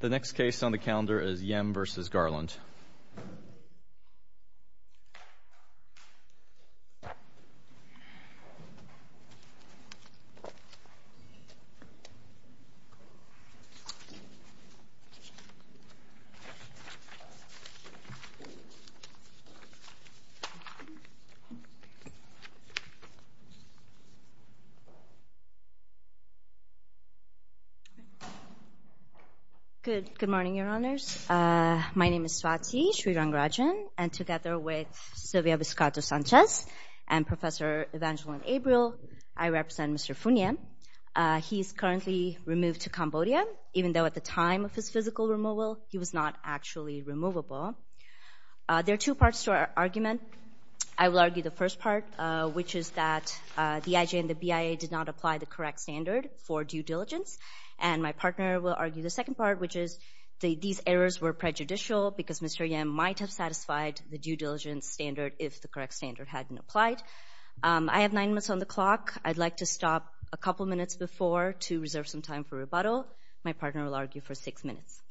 The next case on the calendar is Yem v. Garland. Good morning, Your Honors. My name is Swati Srirangarajan, and together with Sylvia Viscato Sanchez and Professor Evangeline Abreu, I represent Mr. Funia. He is currently removed to Cambodia, even though at the time of his physical removal, he was not actually removable. There are two parts to our argument. I will argue the first part, which is that the IJ and the BIA did not apply the correct standard for due diligence, and my partner will argue the second part, which is these errors were prejudicial because Mr. Yem might have satisfied the due diligence standard if the correct standard hadn't applied. I have nine minutes on the clock. I'd like to stop a couple minutes before to reserve some time for rebuttal. My partner will argue for six minutes.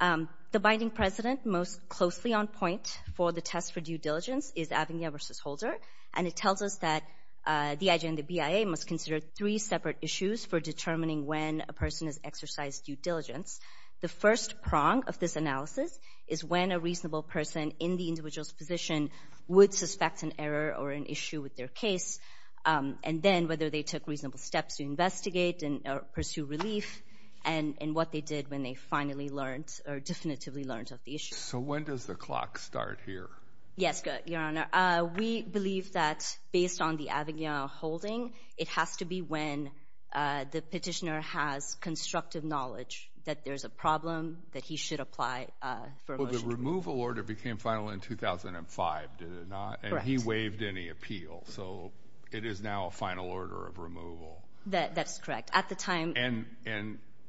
The binding precedent most closely on point for the test for due diligence is Avenia v. Holder, and it tells us that the IJ and the BIA must consider three separate issues for determining when a person has exercised due diligence. The first prong of this analysis is when a reasonable person in the individual's position would suspect an error or an issue with their case, and then whether they took reasonable steps to investigate or pursue relief, and what they did when they finally learned or Yes, good, Your Honor. We believe that based on the Avenia holding, it has to be when the petitioner has constructive knowledge that there's a problem that he should apply for a motion. Well, the removal order became final in 2005, did it not? Correct. And he waived any appeal, so it is now a final order of removal. That's correct. At the time... And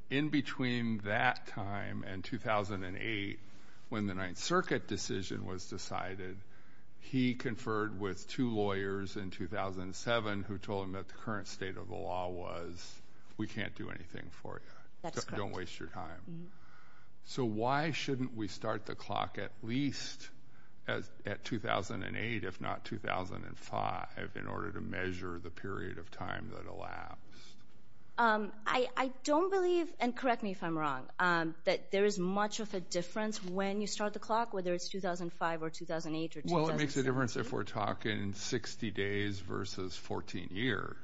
in between that time and 2008, when the Ninth Circuit decision was decided, he conferred with two lawyers in 2007 who told him that the current state of the law was, we can't do anything for you. That's correct. Don't waste your time. So why shouldn't we start the clock at least at 2008, if not 2005, in order to measure the period of time that elapsed? I don't believe, and correct me if I'm wrong, that there is much of a difference when you start the clock, whether it's 2005 or 2008 or 2006. Well, it makes a difference if we're talking 60 days versus 14 years.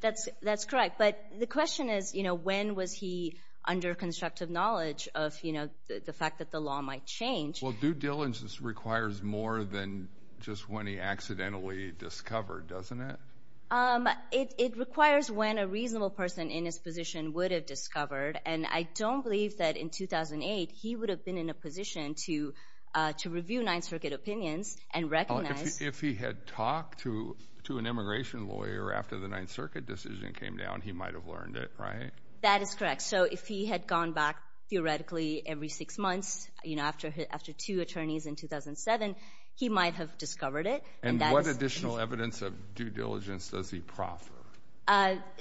That's correct. But the question is, when was he under constructive knowledge of the fact that the law might change? Well, due diligence requires more than just when he accidentally discovered, doesn't it? It requires when a reasonable person in his position would have discovered, and I don't believe that in 2008 he would have been in a position to review Ninth Circuit opinions and recognize... If he had talked to an immigration lawyer after the Ninth Circuit decision came down, he might have learned it, right? That is correct. So if he had gone back, theoretically, every six months, after two attorneys in 2007, he might have discovered it. And what additional evidence of due diligence does he proffer?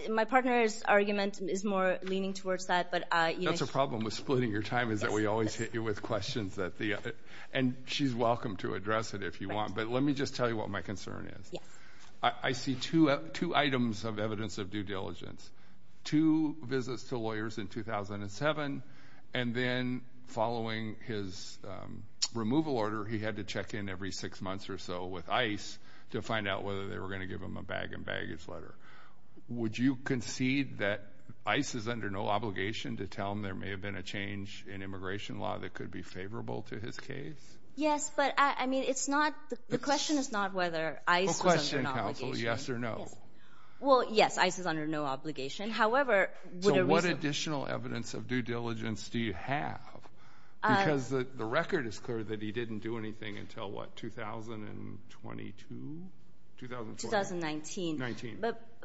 My partner's argument is more leaning towards that, but... That's the problem with splitting your time, is that we always hit you with questions. And she's welcome to address it if you want, but let me just tell you what my concern is. Yes. I see two items of evidence of due diligence. Two visits to lawyers in 2007, and then following his removal order, he had to check in every six months or so with ICE to find out whether they were going to give him a bag and baggage letter. Would you concede that ICE is under no obligation to tell him there may have been a change in immigration law that could be favorable to his case? Yes, but the question is not whether ICE was under an obligation. Well, question, counsel, yes or no? Yes. Well, yes, ICE is under no obligation. However, would a reason... So what additional evidence of due diligence do you have? Because the record is clear that he didn't do anything until what, 2022? 2019.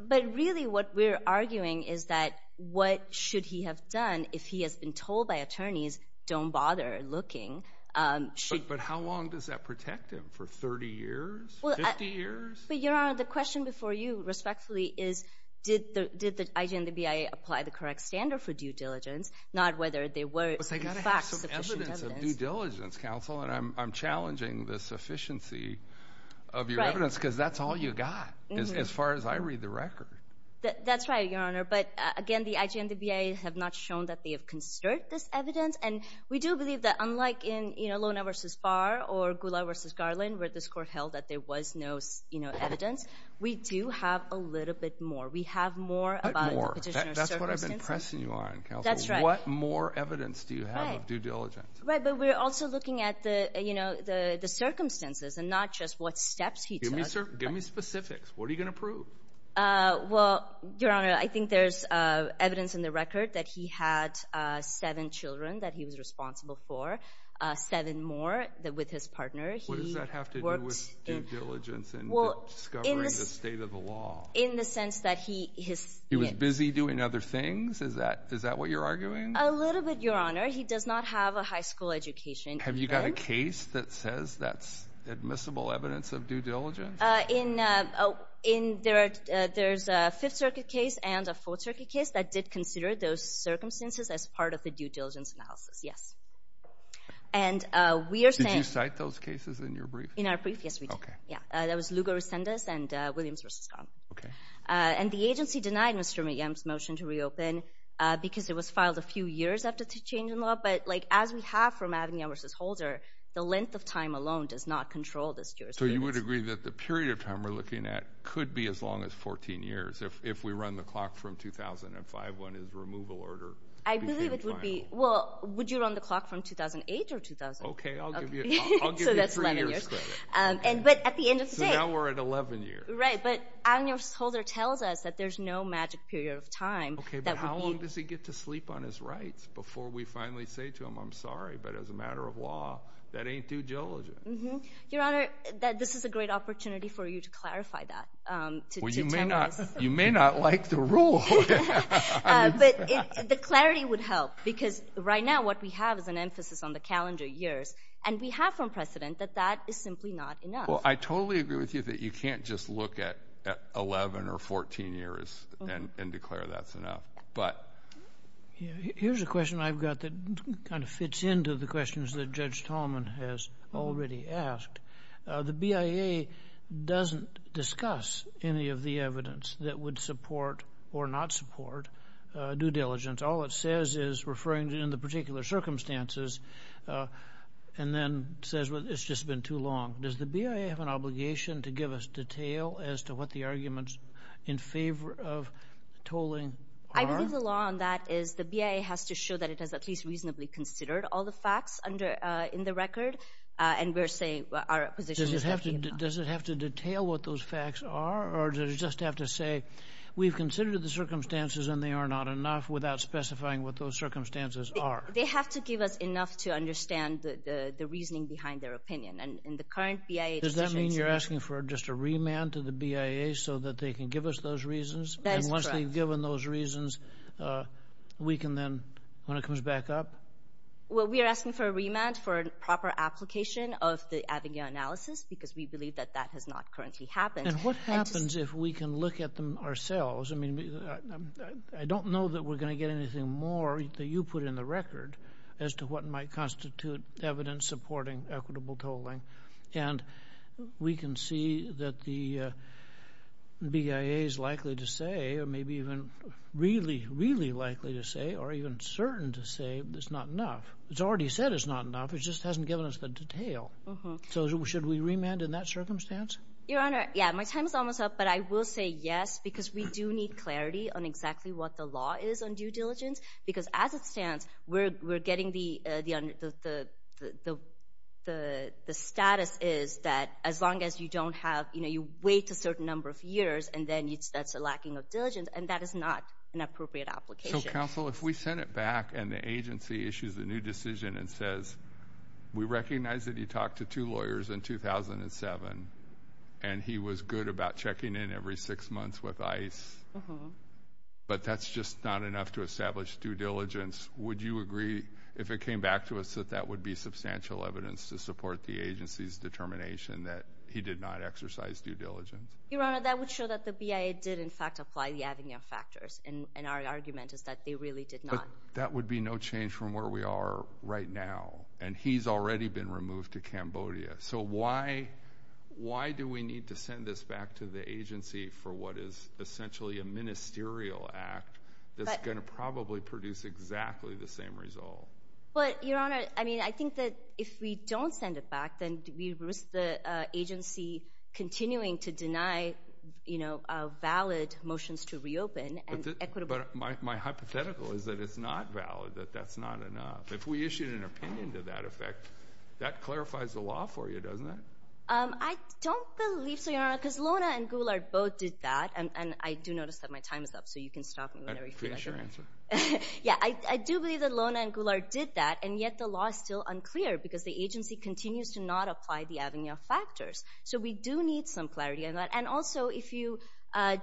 But really what we're arguing is that what should he have done if he has been told by attorneys, don't bother looking? But how long does that protect him? For 30 years? 50 years? But Your Honor, the question before you, respectfully, is did the IG and the BIA apply the correct standard for due diligence, not whether they faxed sufficient evidence? You've got to have some evidence of due diligence, counsel, and I'm challenging the sufficiency of your evidence because that's all you've got, as far as I read the record. That's right, Your Honor, but again, the IG and the BIA have not shown that they have conserved this evidence, and we do believe that unlike in Lona v. Barr or Gula v. Garland, where the score held that there was no evidence, we do have a little bit more. We have more about the petitioner's circumstances. What more? That's what I've been pressing you on, counsel. That's more evidence do you have of due diligence? Right, but we're also looking at the circumstances and not just what steps he took. Give me specifics. What are you going to prove? Well, Your Honor, I think there's evidence in the record that he had seven children that he was responsible for, seven more with his partner. What does that have to do with due diligence and discovering the state of the law? In the sense that he... He was busy doing other things? Is that what you're arguing? A little bit, Your Honor. He does not have a high school education. Have you got a case that says that's admissible evidence of due diligence? There's a Fifth Circuit case and a Fourth Circuit case that did consider those circumstances as part of the due diligence analysis, yes. And we are saying... Did you cite those cases in your brief? In our brief? Yes, we did. Okay. Yeah, that was Lugo Resendez and Williams v. Garland. Okay. And the agency denied Mr. Williams' motion to reopen because it was filed a few years after the change in law. But as we have from Avignon v. Holder, the length of time alone does not control this jurisprudence. So you would agree that the period of time we're looking at could be as long as 14 years if we run the clock from 2005, when his removal order became viable? I believe it would be... Well, would you run the clock from 2008 or 2000? Okay, I'll give you three years credit. So that's 11 years. But at the end of the day... So now we're at 11 years. Right, but Avignon v. Holder tells us that there's no magic period of time that would be... Okay, but how long does he get to sleep on his rights before we finally say to him, I'm sorry, but as a matter of law, that ain't due diligence? Your Honor, this is a great opportunity for you to clarify that. Well, you may not like the rule. But the clarity would help because right now what we have is an emphasis on the calendar years. And we have from precedent that that is simply not enough. Well, I totally agree with you that you can't just look at 11 or 14 years and declare that's enough. But... Here's a question I've got that kind of fits into the questions that Judge Tolman has already asked. The BIA doesn't discuss any of the evidence that would support or not support due diligence. All it says is referring in the particular circumstances and then says, well, it's just been too long. Does the BIA have an obligation to give us detail as to what the arguments in favor of tolling are? I believe the law on that is the BIA has to show that it has at least reasonably considered all the facts under in the record. And we're saying our position... Does it have to detail what those facts are? Or does it just have to say, we've considered the circumstances and they are not enough without specifying what those circumstances are? They have to give us enough to understand the reasoning behind their opinion. And in the current BIA... Does that mean you're asking for just a remand to the BIA so that they can give us those reasons? That is correct. And once they've given those reasons, we can then, when it comes back up? Well, we are asking for a remand for a proper application of the Avogadro analysis because we believe that that has not currently happened. And what happens if we can look at them ourselves? I mean, I don't know that we're going to get anything more that you put in the record as to what might constitute evidence supporting equitable tolling. And we can see that the BIA is likely to say, or maybe even really, really likely to say, or even certain to say, it's not enough. It's already said it's not enough. It just hasn't given us the detail. So should we remand in that circumstance? Your Honor, yeah, my time is almost up, but I will say yes because we do need clarity on exactly what the law is on due diligence. Because as it stands, we're getting the status is that as long as you don't have, you know, you wait a certain number of years, and then that's a lacking of diligence, and that is not an appropriate application. So, counsel, if we send it back and the agency issues a new decision and says, we recognize that you talked to two lawyers in 2007, and he was good about checking in every six months with ICE, but that's just not enough to establish due diligence, would you agree, if it came back to us, that that would be substantial evidence to support the agency's determination that he did not exercise due diligence? Your Honor, that would show that the BIA did in fact apply the Avignon factors, and our argument is that they really did not. That would be no change from where we are right now, and he's already been removed to Cambodia. So, why do we need to send this back to the agency for what is essentially a ministerial act that's going to probably produce exactly the same result? But, Your Honor, I mean, I think that if we don't send it back, then we risk the agency continuing to deny, you know, valid motions to reopen and equitable. But my hypothetical is that it's not valid, that that's not enough. If we issue an opinion to that effect, that clarifies the law for you, doesn't it? I don't believe so, Your Honor, because Lona and Goulart both did that, and I do notice that my time is up, so you can stop me whenever you feel like it. I appreciate your answer. Yeah, I do believe that Lona and Goulart did that, and yet the law is still unclear, because the agency continues to not apply the Avignon factors. So, we do need some clarity on that, and also, if you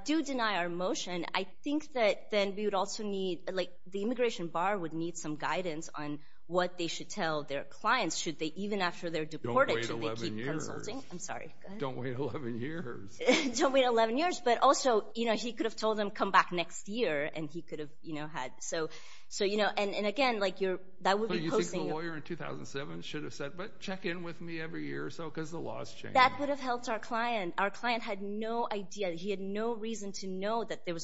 do deny our motion, I think that then we would also need, like, the immigration bar would need some guidance on what they should tell their clients, should they, even after they're deported, should they keep consulting? Don't wait 11 years. I'm sorry, go ahead. Don't wait 11 years. Don't wait 11 years, but also, you know, he could have told them, come back next year, and he could have, you know, had, so, you know, and again, like, that would be posting. You think the lawyer in 2007 should have said, but check in with me every year or so, because the law's changed. That would have helped our client. Our client had no idea, he had no reason to know that there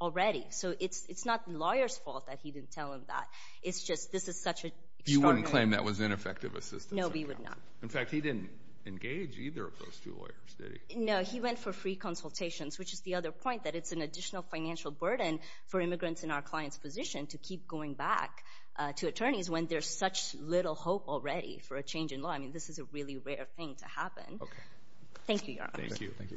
already. So, it's not the lawyer's fault that he didn't tell him that. It's just, this is such a You wouldn't claim that was ineffective assistance? No, we would not. In fact, he didn't engage either of those two lawyers, did he? No, he went for free consultations, which is the other point, that it's an additional financial burden for immigrants in our client's position to keep going back to attorneys when there's such little hope already for a change in law. I mean, this is a really rare thing to happen. Okay. Thank you, Your Honor. Thank you. Okay. All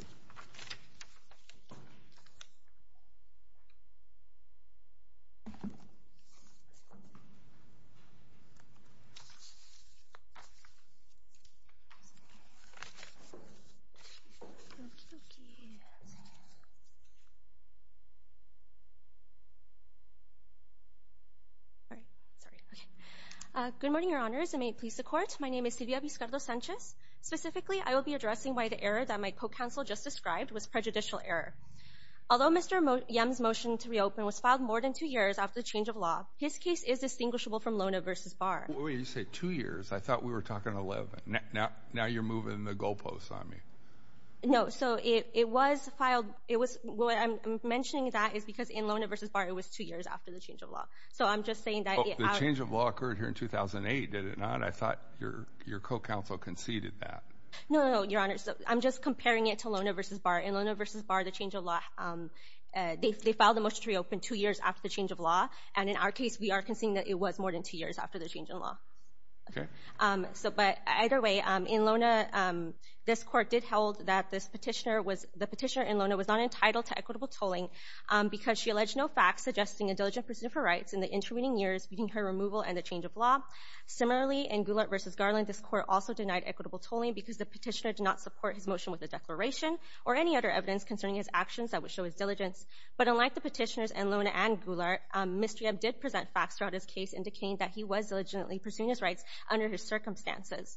right. Sorry. Okay. Good morning, Your Honors, and may it please the Court. My name is Silvia Vizcardo-Sanchez. Specifically, I will be addressing why the error that my co-counsel just described was prejudicial error. Although Mr. Yim's motion to reopen was filed more than two years after the change of law, his case is distinguishable from Lona v. Barr. Wait a minute. You said two years. I thought we were talking 11. Now you're moving the goalposts on me. No. So, it was filed, it was, what I'm mentioning that is because in Lona v. Barr, it was two years after the change of law. So, I'm just saying that it The change of law occurred here in 2008, did it not? I thought your co-counsel conceded that. No, Your Honor. I'm just comparing it to Lona v. Barr. In Lona v. Barr, the change of law, they filed the motion to reopen two years after the change of law, and in our case, we are conceding that it was more than two years after the change in law. Okay. But either way, in Lona, this Court did hold that the petitioner in Lona was not entitled to equitable tolling because she alleged no facts suggesting a diligent pursuit of her rights in the intervening years between her removal and the change of law. Similarly, in Goulart v. Garland, this Court also denied equitable tolling because the petitioner did not support his motion with a declaration or any other evidence concerning his actions that would show his diligence. But unlike the petitioners in Lona and Goulart, Mr. Yebb did present facts throughout his case indicating that he was diligently pursuing his rights under his circumstances.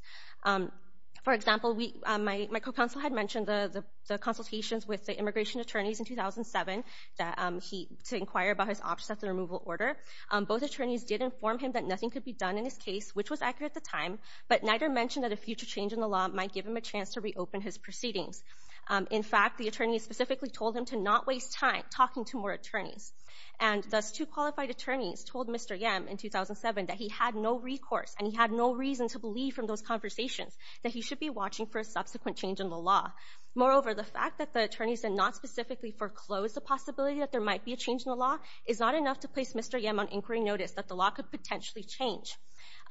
For example, my co-counsel had mentioned the consultations with the immigration attorneys in 2007 to inquire about his options at the removal order. Both attorneys did inform him that could be done in his case, which was accurate at the time, but neither mentioned that a future change in the law might give him a chance to reopen his proceedings. In fact, the attorneys specifically told him to not waste time talking to more attorneys. And thus, two qualified attorneys told Mr. Yebb in 2007 that he had no recourse and he had no reason to believe from those conversations that he should be watching for a subsequent change in the law. Moreover, the fact that the attorneys did not specifically foreclose the possibility that there might be a change in the law is not enough to place Mr. Yebb on inquiry notice that the law could potentially change.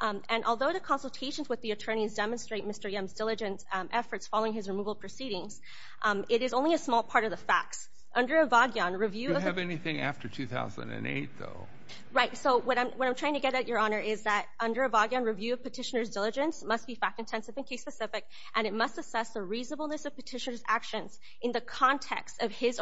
And although the consultations with the attorneys demonstrate Mr. Yebb's diligence efforts following his removal proceedings, it is only a small part of the facts. Under a Vagyon review... Do you have anything after 2008 though? Right. So what I'm trying to get at, Your Honor, is that under a Vagyon review of petitioner's diligence must be fact-intensive and case-specific, and it must assess the reasonableness of petitioner's actions in the case.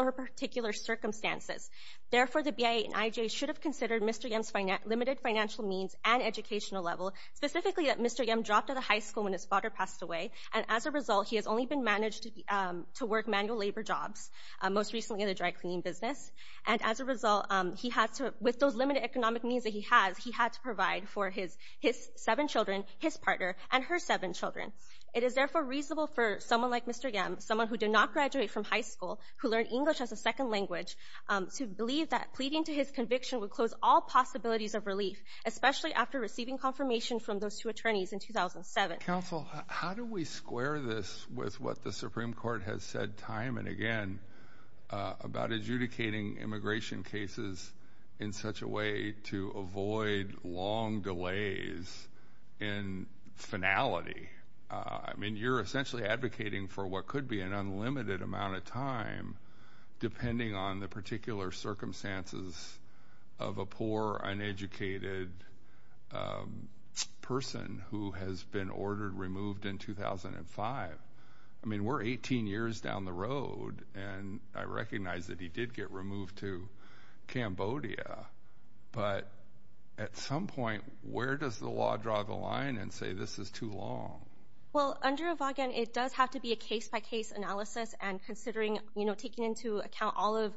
The BIA and IJ should have considered Mr. Yebb's limited financial means and educational level, specifically that Mr. Yebb dropped out of high school when his father passed away. And as a result, he has only been managed to work manual labor jobs, most recently in the dry cleaning business. And as a result, with those limited economic means that he has, he had to provide for his seven children, his partner, and her seven children. It is therefore reasonable for someone like Mr. Yebb, someone who did not graduate from high school, who learned English as a second language, to believe that pleading to his conviction would close all possibilities of relief, especially after receiving confirmation from those two attorneys in 2007. Counsel, how do we square this with what the Supreme Court has said time and again about adjudicating immigration cases in such a way to avoid long delays in finality? I mean, you're essentially advocating for what could be an unlimited amount of time, depending on the particular circumstances of a poor, uneducated person who has been ordered removed in 2005. I mean, we're 18 years down the road, and I recognize that he did get removed to Cambodia. But at some point, where does the law draw the line and say, this is too long? Well, under Evagen, it does have to be a case-by-case analysis and considering, you know, taking into account all of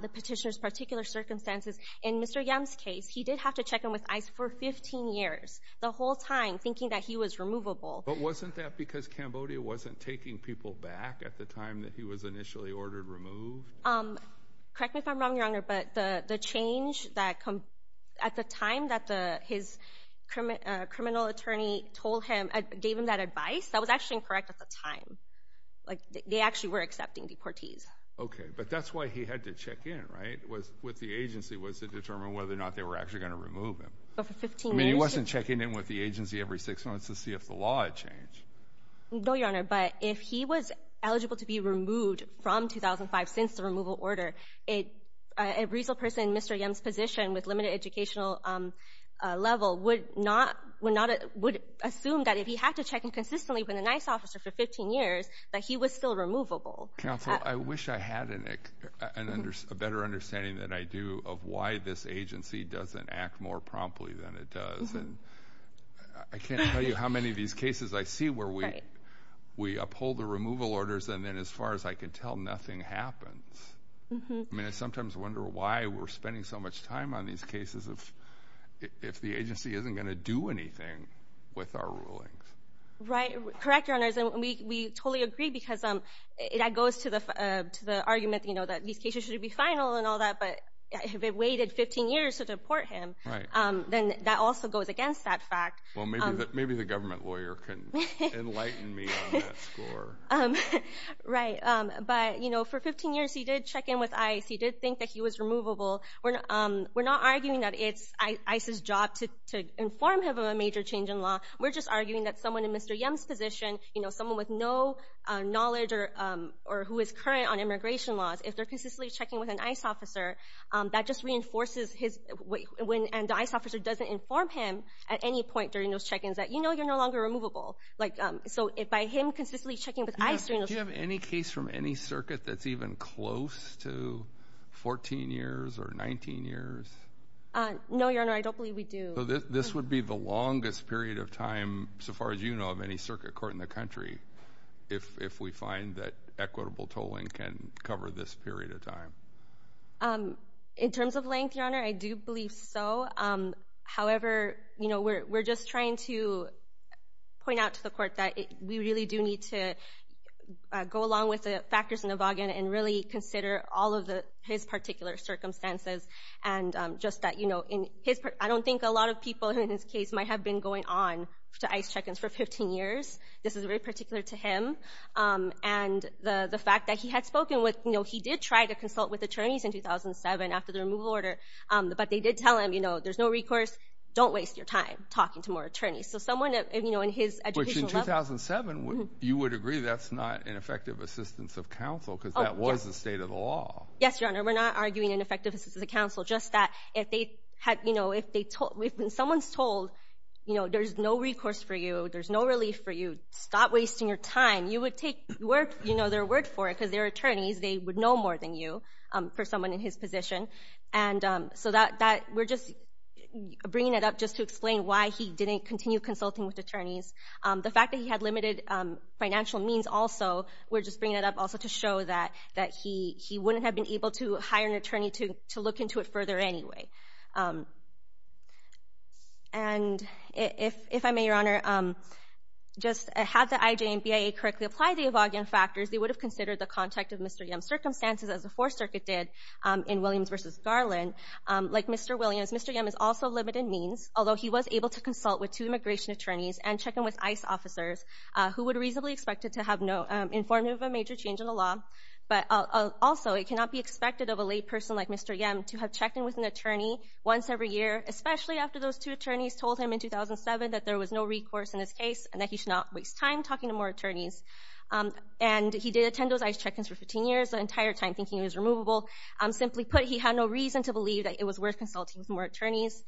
the petitioner's particular circumstances. In Mr. Yebb's case, he did have to check in with ICE for 15 years, the whole time, thinking that he was removable. But wasn't that because Cambodia wasn't taking people back at the time that he was initially ordered removed? Correct me if I'm wrong, but the change that, at the time that his criminal attorney told him, gave him that advice, that was actually incorrect at the time. Like, they actually were accepting deportees. Okay, but that's why he had to check in, right, with the agency, was to determine whether or not they were actually going to remove him. I mean, he wasn't checking in with the agency every six months to see if the law had changed. No, Your Honor, but if he was eligible to be removed from 2005 since the removal order, a reasonable person in Mr. Yebb's position with limited educational level would assume that if he had to check in consistently with an ICE officer for 15 years, that he was still removable. Counsel, I wish I had a better understanding than I do of why this agency doesn't act more promptly than it does. And I can't tell you how many of these cases I see where we uphold the removal orders and then, as far as I can tell, nothing happens. I mean, I sometimes wonder why we're spending so much time on these cases if the agency isn't going to do anything with our rulings. Right. Correct, Your Honor. We totally agree because that goes to the argument that these cases should be final and all that, but if it waited 15 years to deport him, then that also goes against that fact. Well, maybe the government lawyer can enlighten me on that score. Right. But, you know, for 15 years, he did check in with ICE. He did think that he was removable. We're not arguing that it's ICE's job to inform him of a major change in law. We're just arguing that someone in Mr. Yebb's position, you know, someone with no knowledge or who is current on immigration laws, if they're consistently checking with an ICE officer, that just reinforces his—and the ICE officer doesn't inform him at any point during those check-ins that, you know, you're no longer removable. Like, so by him consistently checking with ICE— Do you have any case from any circuit that's even close to 14 years or 19 years? No, Your Honor. I don't believe we do. So this would be the longest period of time, so far as you know, of any circuit court in the country, if we find that equitable tolling can cover this period of time. In terms of length, Your Honor, I do believe so. However, you know, we're just trying to point out to the court that we really do need to go along with the factors in the bargain and really consider all of his particular circumstances and just that, you know, in his—I don't think a lot of people in this case might have been going on to ICE check-ins for 15 years. This is very particular to him. And the fact that he had spoken with you know, he did try to consult with attorneys in 2007 after the removal order, but they did tell him, you know, there's no recourse, don't waste your time talking to more attorneys. So someone, you know, in his educational level— Which in 2007, you would agree that's not an effective assistance of counsel because that was the state of the law. Yes, Your Honor. We're not arguing ineffective assistance of counsel, just that if they had, you know, if they told—when someone's told, you know, there's no recourse for you, there's no relief for you, stop wasting your time, you would work, you know, their word for it because their attorneys, they would know more than you for someone in his position. And so that—we're just bringing it up just to explain why he didn't continue consulting with attorneys. The fact that he had limited financial means also, we're just bringing it up also to show that he wouldn't have been able to hire an attorney to look into it would have considered the contact of Mr. Yim's circumstances as the Fourth Circuit did in Williams v. Garland. Like Mr. Williams, Mr. Yim is also limited means, although he was able to consult with two immigration attorneys and check in with ICE officers who would reasonably expect it to have no—informative of a major change in the law, but also it cannot be expected of a lay person like Mr. Yim to have checked in with an attorney once every year, especially after those two attorneys told him in 2007 that there was no recourse in his case and that he should not waste time talking to more attorneys. And he did attend those ICE check-ins for 15 years, the entire time thinking it was removable. Simply put, he had no reason to believe that it was worth consulting with more attorneys.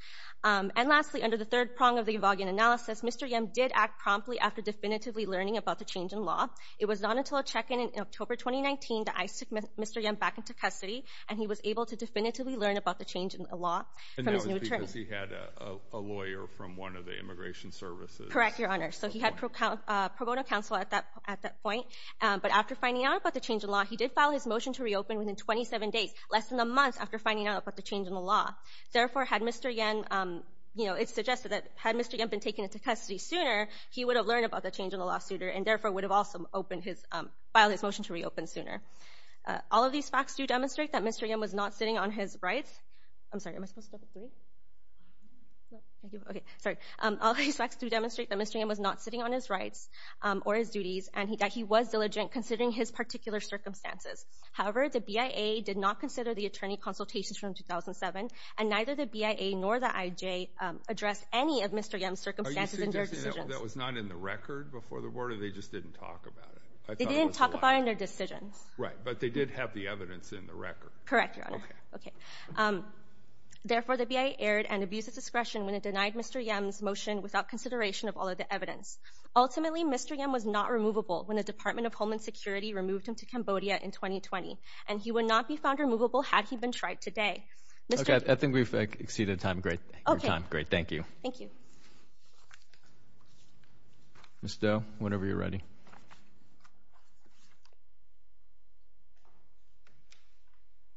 And lastly, under the third prong of the Evolvian analysis, Mr. Yim did act promptly after definitively learning about the change in law. It was not until a check-in in October 2019 that ICE took Mr. Yim back into custody, and he was able to definitively learn about the change in the law from his new attorney. And that was because he had a lawyer from one of the immigration services. Correct, Your Honor. So he had pro bono counsel at that point. But after finding out about the change in law, he did file his motion to reopen within 27 days, less than a month after finding out about the change in the law. Therefore, had Mr. Yim—it's suggested that had Mr. Yim been taken into custody sooner, he would have learned about the change in the law sooner and therefore would have also filed his motion to reopen sooner. All of these facts do demonstrate that Mr. Yim was not sitting on his rights—I'm sorry, am I supposed to go to three? Okay, sorry. All of these facts do demonstrate that Mr. Yim was not sitting on his rights or his duties, and that he was diligent considering his particular circumstances. However, the BIA did not consider the attorney consultations from 2007, and neither the BIA nor the IJ addressed any of Mr. Yim's circumstances in their decisions. That was not in the record before the order? They just didn't talk about it? They didn't talk about it in their decisions. Right, but they did have the evidence in the record. Correct, Your Honor. Okay. Therefore, the BIA erred and abused its discretion when it denied Mr. Yim's motion without consideration of all of the evidence. Ultimately, Mr. Yim was not removable when the Department of Homeland Security removed him to Cambodia in 2020, and he would not be found removable had he been tried today. Okay, I think we've exceeded time. Great. Great. Thank you. Thank you. Ms. Do, whenever you're ready.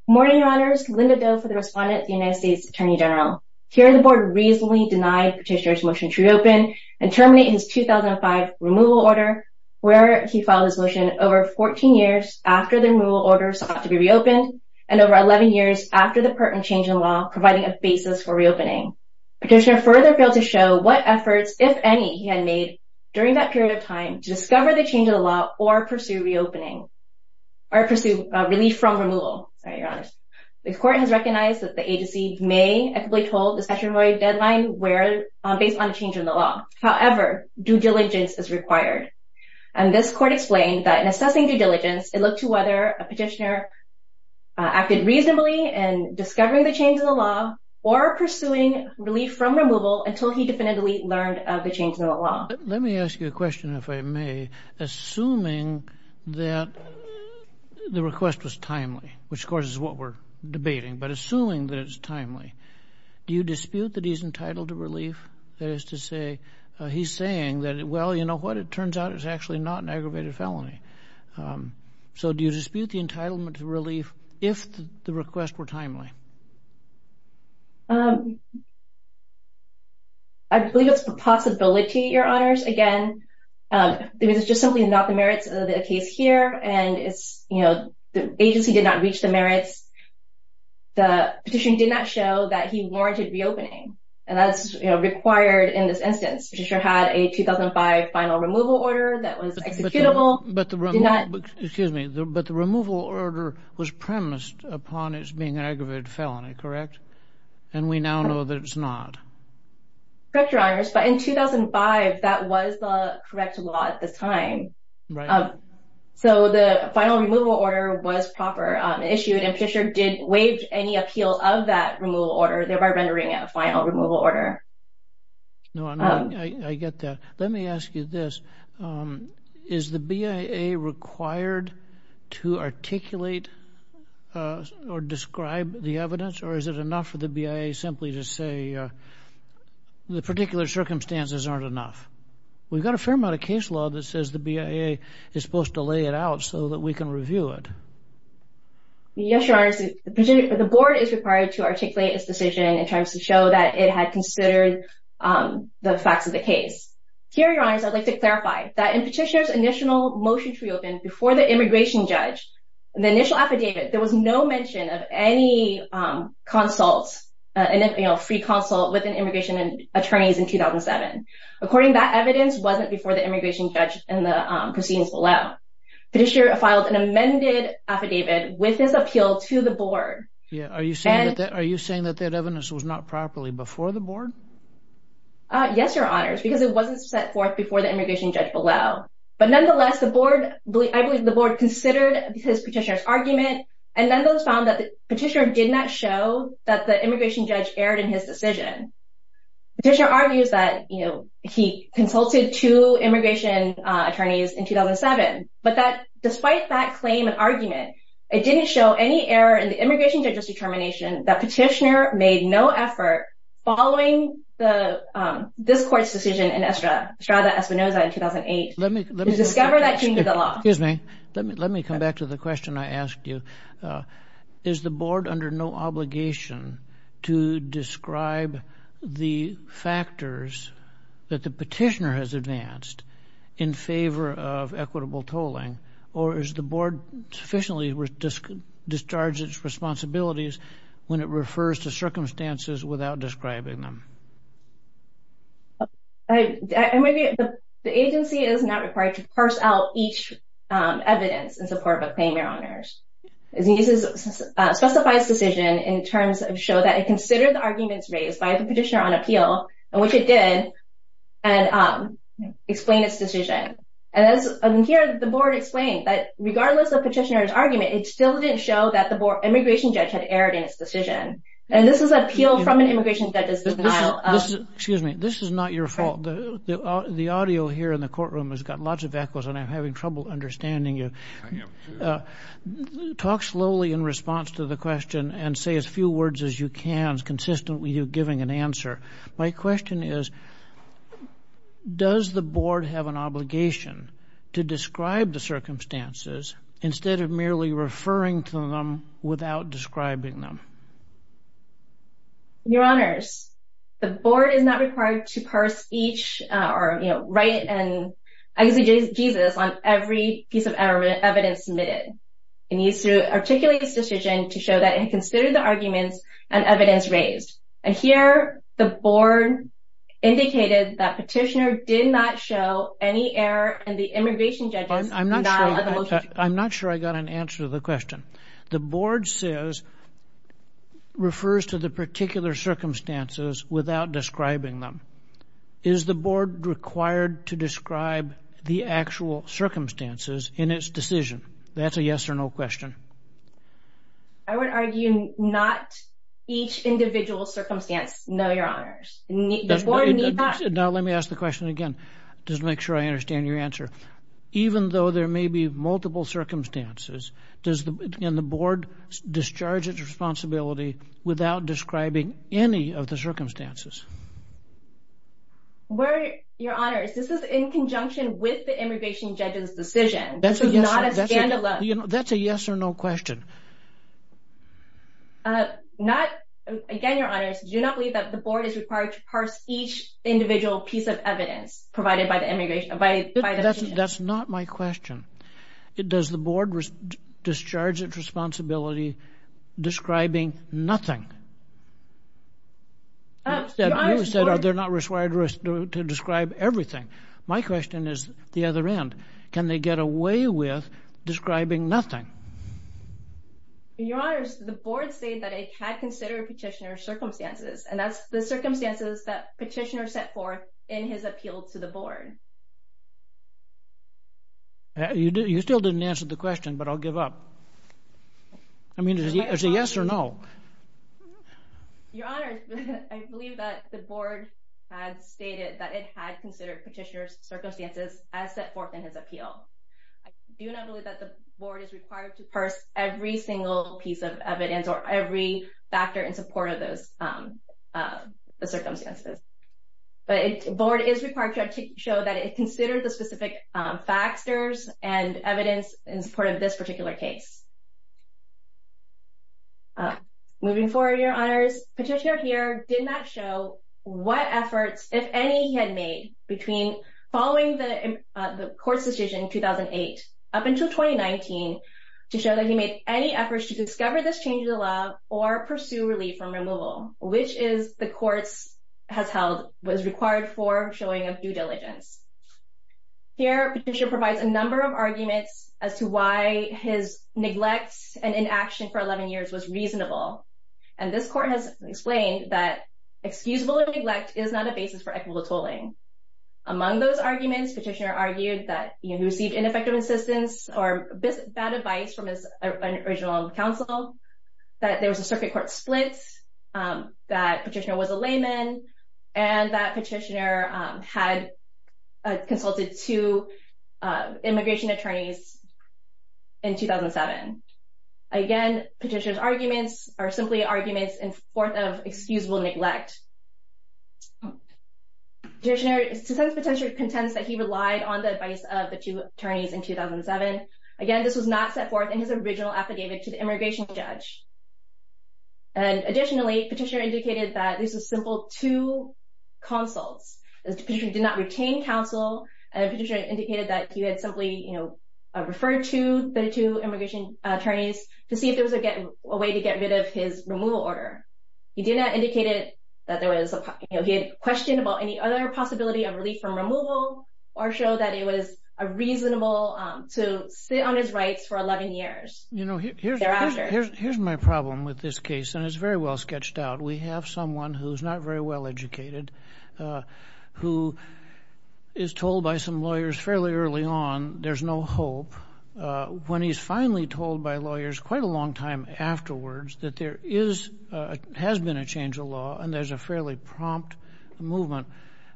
Good morning, Your Honors. Linda Do for the respondent at the United States Attorney General. Here, the Board reasonably denied Petitioner's motion to reopen and terminate his 2005 removal order, where he filed his motion over 14 years after the removal order sought to be reopened, and over 11 years after the pertinent change in law providing a basis for reopening. Petitioner further failed to show what efforts, if any, he had made during that period of time to discover the change in the law or pursue reopening, or pursue relief from removal. Sorry, Your Honor. The court has recognized that the agency may equitably told the statutory deadline based on a change in the law. However, due diligence is required. This court explained that in assessing due diligence, it looked to whether a petitioner acted reasonably in discovering the change in the law or pursuing relief from removal until he definitively learned of the change in the law. Let me ask you a question, if I may. Assuming that the request was timely, which, of course, is what we're debating, but assuming that it's timely, do you dispute that he's entitled to relief? That is to say, he's saying that, well, you know what, it turns out it's actually not an aggravated felony. So, do you dispute the entitlement to relief if the requests were timely? I believe it's a possibility, Your Honors. Again, it was just simply not the merits of the case here. And it's, you know, the agency did not reach the merits. The petition did not show that he warranted reopening. And that's required in this instance. The petitioner had a 2005 final removal order that was executable. But the removal order was premised upon it being an aggravated felony, correct? And we now know that it's not. Correct, Your Honors. But in 2005, that was the correct law at this time. Right. So, the final removal order was proper, issued, and Petitioner did waive any appeal of that removal order, thereby rendering it a final removal order. No, I get that. Let me ask you this. Is the BIA required to articulate or describe the evidence? Or is it enough for the BIA simply to say the particular circumstances aren't enough? We've got a fair amount of case law that says the BIA is supposed to lay it out so that we can review it. Yes, Your Honors. The board is required to articulate its decision in terms to show that it had considered the facts of the case. Here, I'd like to clarify that in Petitioner's initial motion to reopen before the immigration judge, the initial affidavit, there was no mention of any free consult with immigration attorneys in 2007. According to that evidence, it wasn't before the immigration judge and the proceedings below. Petitioner filed an amended affidavit with his appeal to the board. Yeah. Are you saying that that evidence was not properly before the board? Yes, Your Honors, because it wasn't set forth before the immigration judge below. But nonetheless, the board, I believe the board considered his petitioner's argument, and nonetheless found that the petitioner did not show that the immigration judge erred in his decision. Petitioner argues that, you know, he consulted two immigration attorneys in 2007, but that despite that claim and argument, it didn't show any error in the immigration judge's decision. I think this court's decision in Estrada Espinoza in 2008, to discover that he knew the law. Excuse me. Let me come back to the question I asked you. Is the board under no obligation to describe the factors that the petitioner has advanced in favor of equitable tolling? Or is the board sufficiently discharged its responsibilities when it refers to circumstances without describing them? I'm going to get the agency is not required to parse out each evidence in support of a claim, Your Honors. It uses specifies decision in terms of show that it considered the arguments raised by the petitioner on appeal, and which it did, and explain its decision. And as I'm here, the board explained that regardless of petitioner's argument, it still didn't show that the board immigration judge had erred in its decision. And this is appeal from an immigration judge's excuse me. This is not your fault. The audio here in the courtroom has got lots of echoes, and I'm having trouble understanding you. Talk slowly in response to the question and say as few words as you can consistently you giving an answer. My question is, does the board have an obligation to describe the circumstances instead of merely referring to them without describing them? Your Honors, the board is not required to parse each or write and exegesis on every piece of evidence submitted. It needs to articulate its decision to show that it considered the arguments and evidence raised. And here the board indicated that petitioner did not show any error and the refers to the particular circumstances without describing them. Is the board required to describe the actual circumstances in its decision? That's a yes or no question. I would argue not each individual circumstance. No, Your Honors. Now let me ask the question again. Just make sure I understand your answer. Even though there may be multiple circumstances, does the board discharge its responsibility without describing any of the circumstances? Your Honors, this is in conjunction with the immigration judge's decision. That's a yes or no question. Again, Your Honors, do you not believe that the board is required to parse each individual piece of evidence provided by the immigration? That's not my question. Does the board discharge its responsibility describing nothing? You said they're not required to describe everything. My question is the other end. Can they get away with describing nothing? Your Honors, the board said that it had petitioner's circumstances, and that's the circumstances that petitioner set forth in his appeal to the board. You still didn't answer the question, but I'll give up. I mean, is it a yes or no? Your Honors, I believe that the board had stated that it had considered petitioner's circumstances as set forth in his appeal. I do not believe that the support of those circumstances. But the board is required to show that it considered the specific factors and evidence in support of this particular case. Moving forward, Your Honors, Petitioner here did not show what efforts, if any, he had made between following the court's decision in 2008 up until 2019 to show that he made any efforts to discover this change in the law or pursue relief from removal, which is the courts has held was required for showing of due diligence. Here, Petitioner provides a number of arguments as to why his neglect and inaction for 11 years was reasonable. And this court has explained that excusable neglect is not a basis for equitable tolling. Among those arguments, Petitioner argued that he received ineffective assistance or bad advice from his original counsel, that there was a circuit court split, that Petitioner was a layman, and that Petitioner had consulted two immigration attorneys in 2007. Again, Petitioner's arguments are simply arguments in forth of of the two attorneys in 2007. Again, this was not set forth in his original affidavit to the immigration judge. And additionally, Petitioner indicated that this was simple to consults, as Petitioner did not retain counsel, and Petitioner indicated that he had simply referred to the two immigration attorneys to see if there was a way to get rid of his removal order. He did not indicate that there was a question about any other possibility of relief from removal or show that it was a reasonable to sit on his rights for 11 years. You know, here's my problem with this case, and it's very well sketched out. We have someone who's not very well educated, who is told by some lawyers fairly early on, there's no hope. When he's finally told by lawyers quite a long time afterwards that there is, has been a change in law, and there's a fairly prompt movement.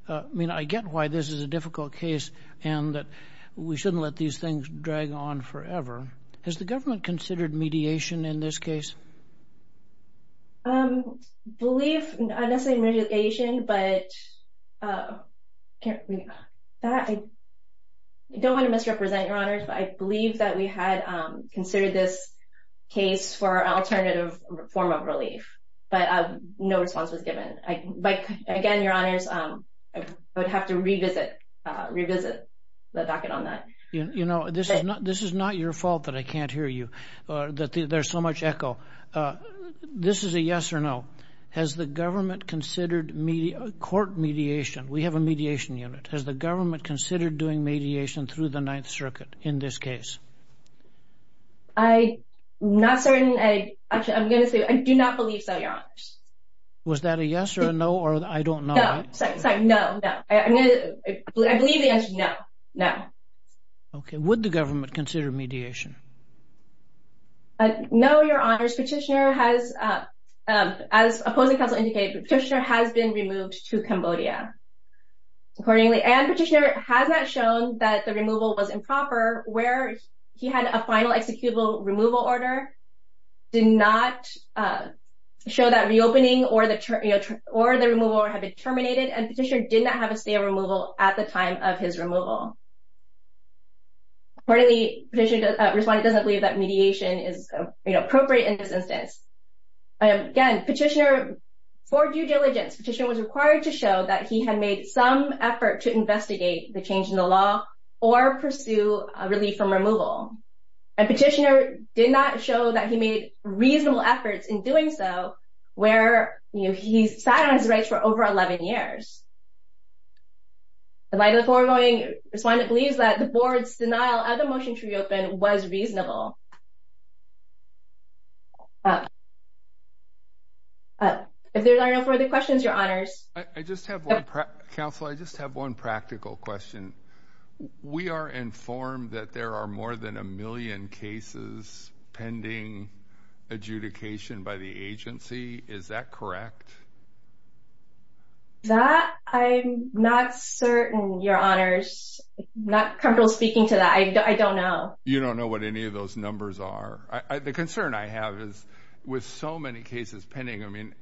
I mean, I get why this is a difficult case, and that we shouldn't let these things drag on forever. Has the government considered mediation in this case? I don't want to misrepresent your honors, but I believe that we had considered this case for alternative form of relief, but no response was given. But again, your honors, I would have to revisit the docket on that. You know, this is not your fault that I can't hear you, that there's so much echo. This is a yes or no. Has the government considered court mediation? We have a mediation unit. Has the government considered doing mediation through the Ninth Circuit? Not certain. I'm going to say, I do not believe so, your honors. Was that a yes or a no, or I don't know? No, sorry. No, no. I believe the answer is no. No. Okay. Would the government consider mediation? No, your honors. Petitioner has, as opposing counsel indicated, Petitioner has been removed to Cambodia, accordingly. And Petitioner has not shown that the removal was improper, where he had a final executable removal order, did not show that reopening or the removal had been terminated, and Petitioner did not have a stay of removal at the time of his removal. Accordingly, Petitioner's respondent doesn't believe that mediation is appropriate in this instance. Again, Petitioner, for due diligence, Petitioner was required to show that he had made some effort to investigate the change in the law or pursue a relief from removal. And Petitioner did not show that he made reasonable efforts in doing so, where he sat on his rights for over 11 years. In light of the foregoing, respondent believes that the board's denial of the motion to reopen was reasonable. If there are no further questions, your honors. I just have one, counsel. I just have one practical question. We are informed that there are more than a million cases pending adjudication by the agency. Is that correct? That, I'm not certain, your honors. Not comfortable speaking to that. I don't know. You don't know what any of those numbers are. The concern I have is with so many cases pending, I mean,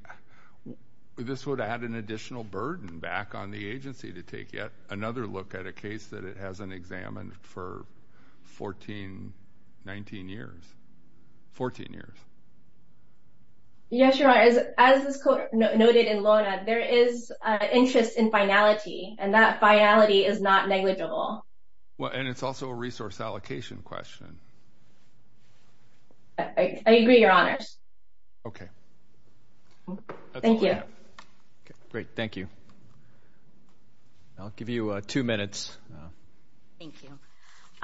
this would add an additional burden back on the agency to take yet another look at a case that it hasn't examined for 14, 19 years, 14 years. Yes, your honor. As this court noted in LORNA, there is an interest in finality, and that finality is not negligible. Well, and it's also a resource allocation question. I agree, your honors. Okay. Thank you. Great. Thank you. I'll give you two minutes. Thank you.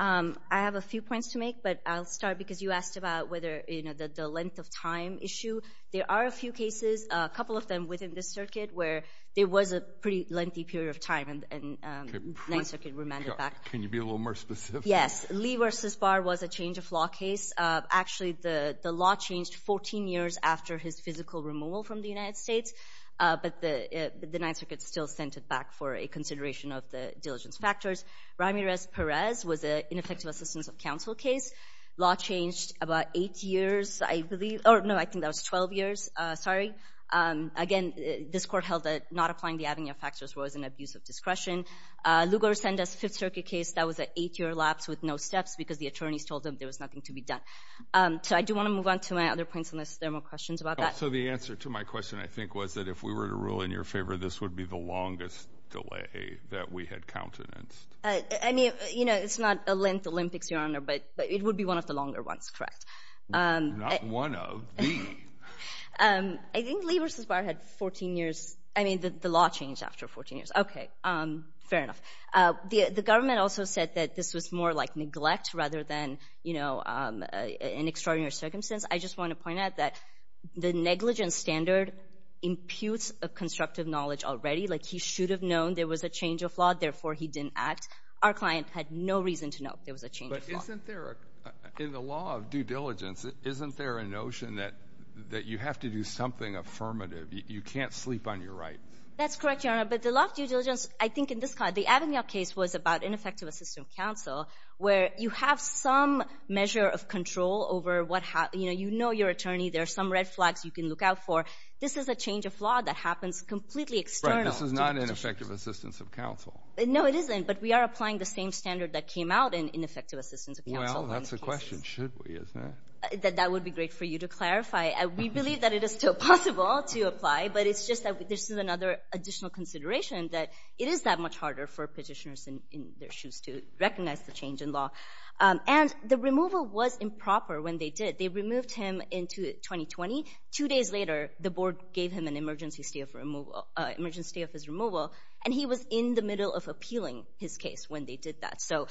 I have a few points to make, but I'll start because you asked about whether, you know, the length of time issue. There are a few cases, a couple of them within this circuit, where there was a pretty lengthy period of time, and 9th Circuit remanded back. Can you be a little more specific? Yes. Lee v. Barr was a change of law case. Actually, the law changed 14 years after his physical removal from the United States, but the 9th Circuit still sent it back for a consideration of the diligence factors. Ramirez-Perez was an ineffective assistance of counsel case. Law changed about 8 years, I believe, or no, I think that was 12 years. Sorry. Again, this court held that not applying the avenue of factors was an abuse of discretion. Lugar sent us a 5th Circuit case that was an 8-year lapse with no steps because the attorneys told them there was nothing to be done. So I do want to move on to my other points unless there are more questions about that. So the answer to my question, I think, was that if we were to rule in your favor, this would be the longest delay that we had countenanced. I mean, you know, it's not a length Olympics, your honor, but it would be one of the longer ones, correct? Not one of, the. I think Lee v. Barr had 14 years, I mean, the law changed after 14 years. Okay. Fair enough. The government also said that this was more like neglect rather than, you know, an extraordinary circumstance. I just want to point out that the negligence standard imputes a constructive knowledge already, like he should have known there was a change of law, therefore he didn't act. Our client had no reason to know there was a change. But isn't there, in the law of due diligence, isn't there a notion that you have to do something affirmative? You can't sleep on your right. That's correct, your honor. But the law of due diligence, I think, in this case, the Avignon case was about ineffective assistance of counsel, where you have some measure of control over what, you know, you know your attorney, there are some red flags you can look out for. This is a change of law that happens completely external. Right. This is not ineffective assistance of counsel. No, it isn't. But we are applying the same standard that came out in ineffective assistance of counsel. Well, that's the question, should we, isn't it? That would be great for you to clarify. We believe that it is still possible to apply, but it's just that this is another additional consideration that it is that much harder for petitioners in their shoes to recognize the change in law. And the removal was improper when they did. They removed him in 2020. Two days later, the board gave him an emergency stay of his removal, and he was in the middle of appealing his case when they did that. So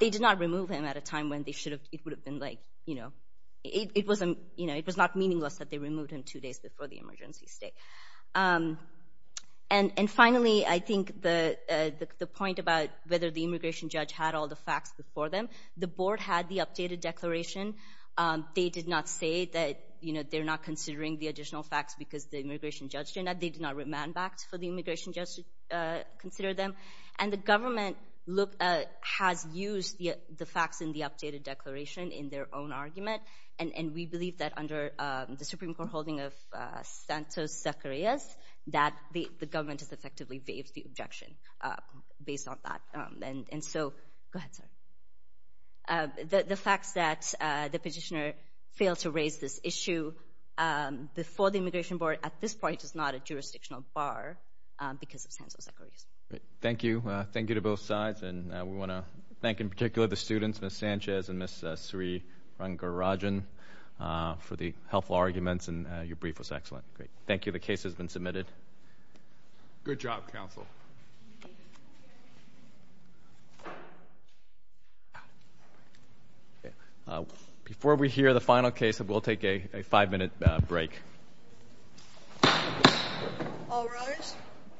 they did not remove him at a time when it would have been like, you know, it was not meaningless that they removed him two days before the emergency stay. And finally, I think the point about whether the immigration judge had all the facts before them, the board had the updated declaration. They did not say that, you know, they're not considering the additional facts because the immigration judge did not. They did not remand back for the immigration judge to consider them. And the government has used the facts in the updated declaration in their own the Supreme Court holding of Santos-Zacarias that the government has effectively waived the objection based on that. And so, go ahead, sir. The facts that the petitioner failed to raise this issue before the immigration board at this point is not a jurisdictional bar because of Santos-Zacarias. Thank you. Thank you to both sides. And we want to thank in particular the and your brief was excellent. Great. Thank you. The case has been submitted. Good job, counsel. Before we hear the final case, we'll take a five-minute break. All rise.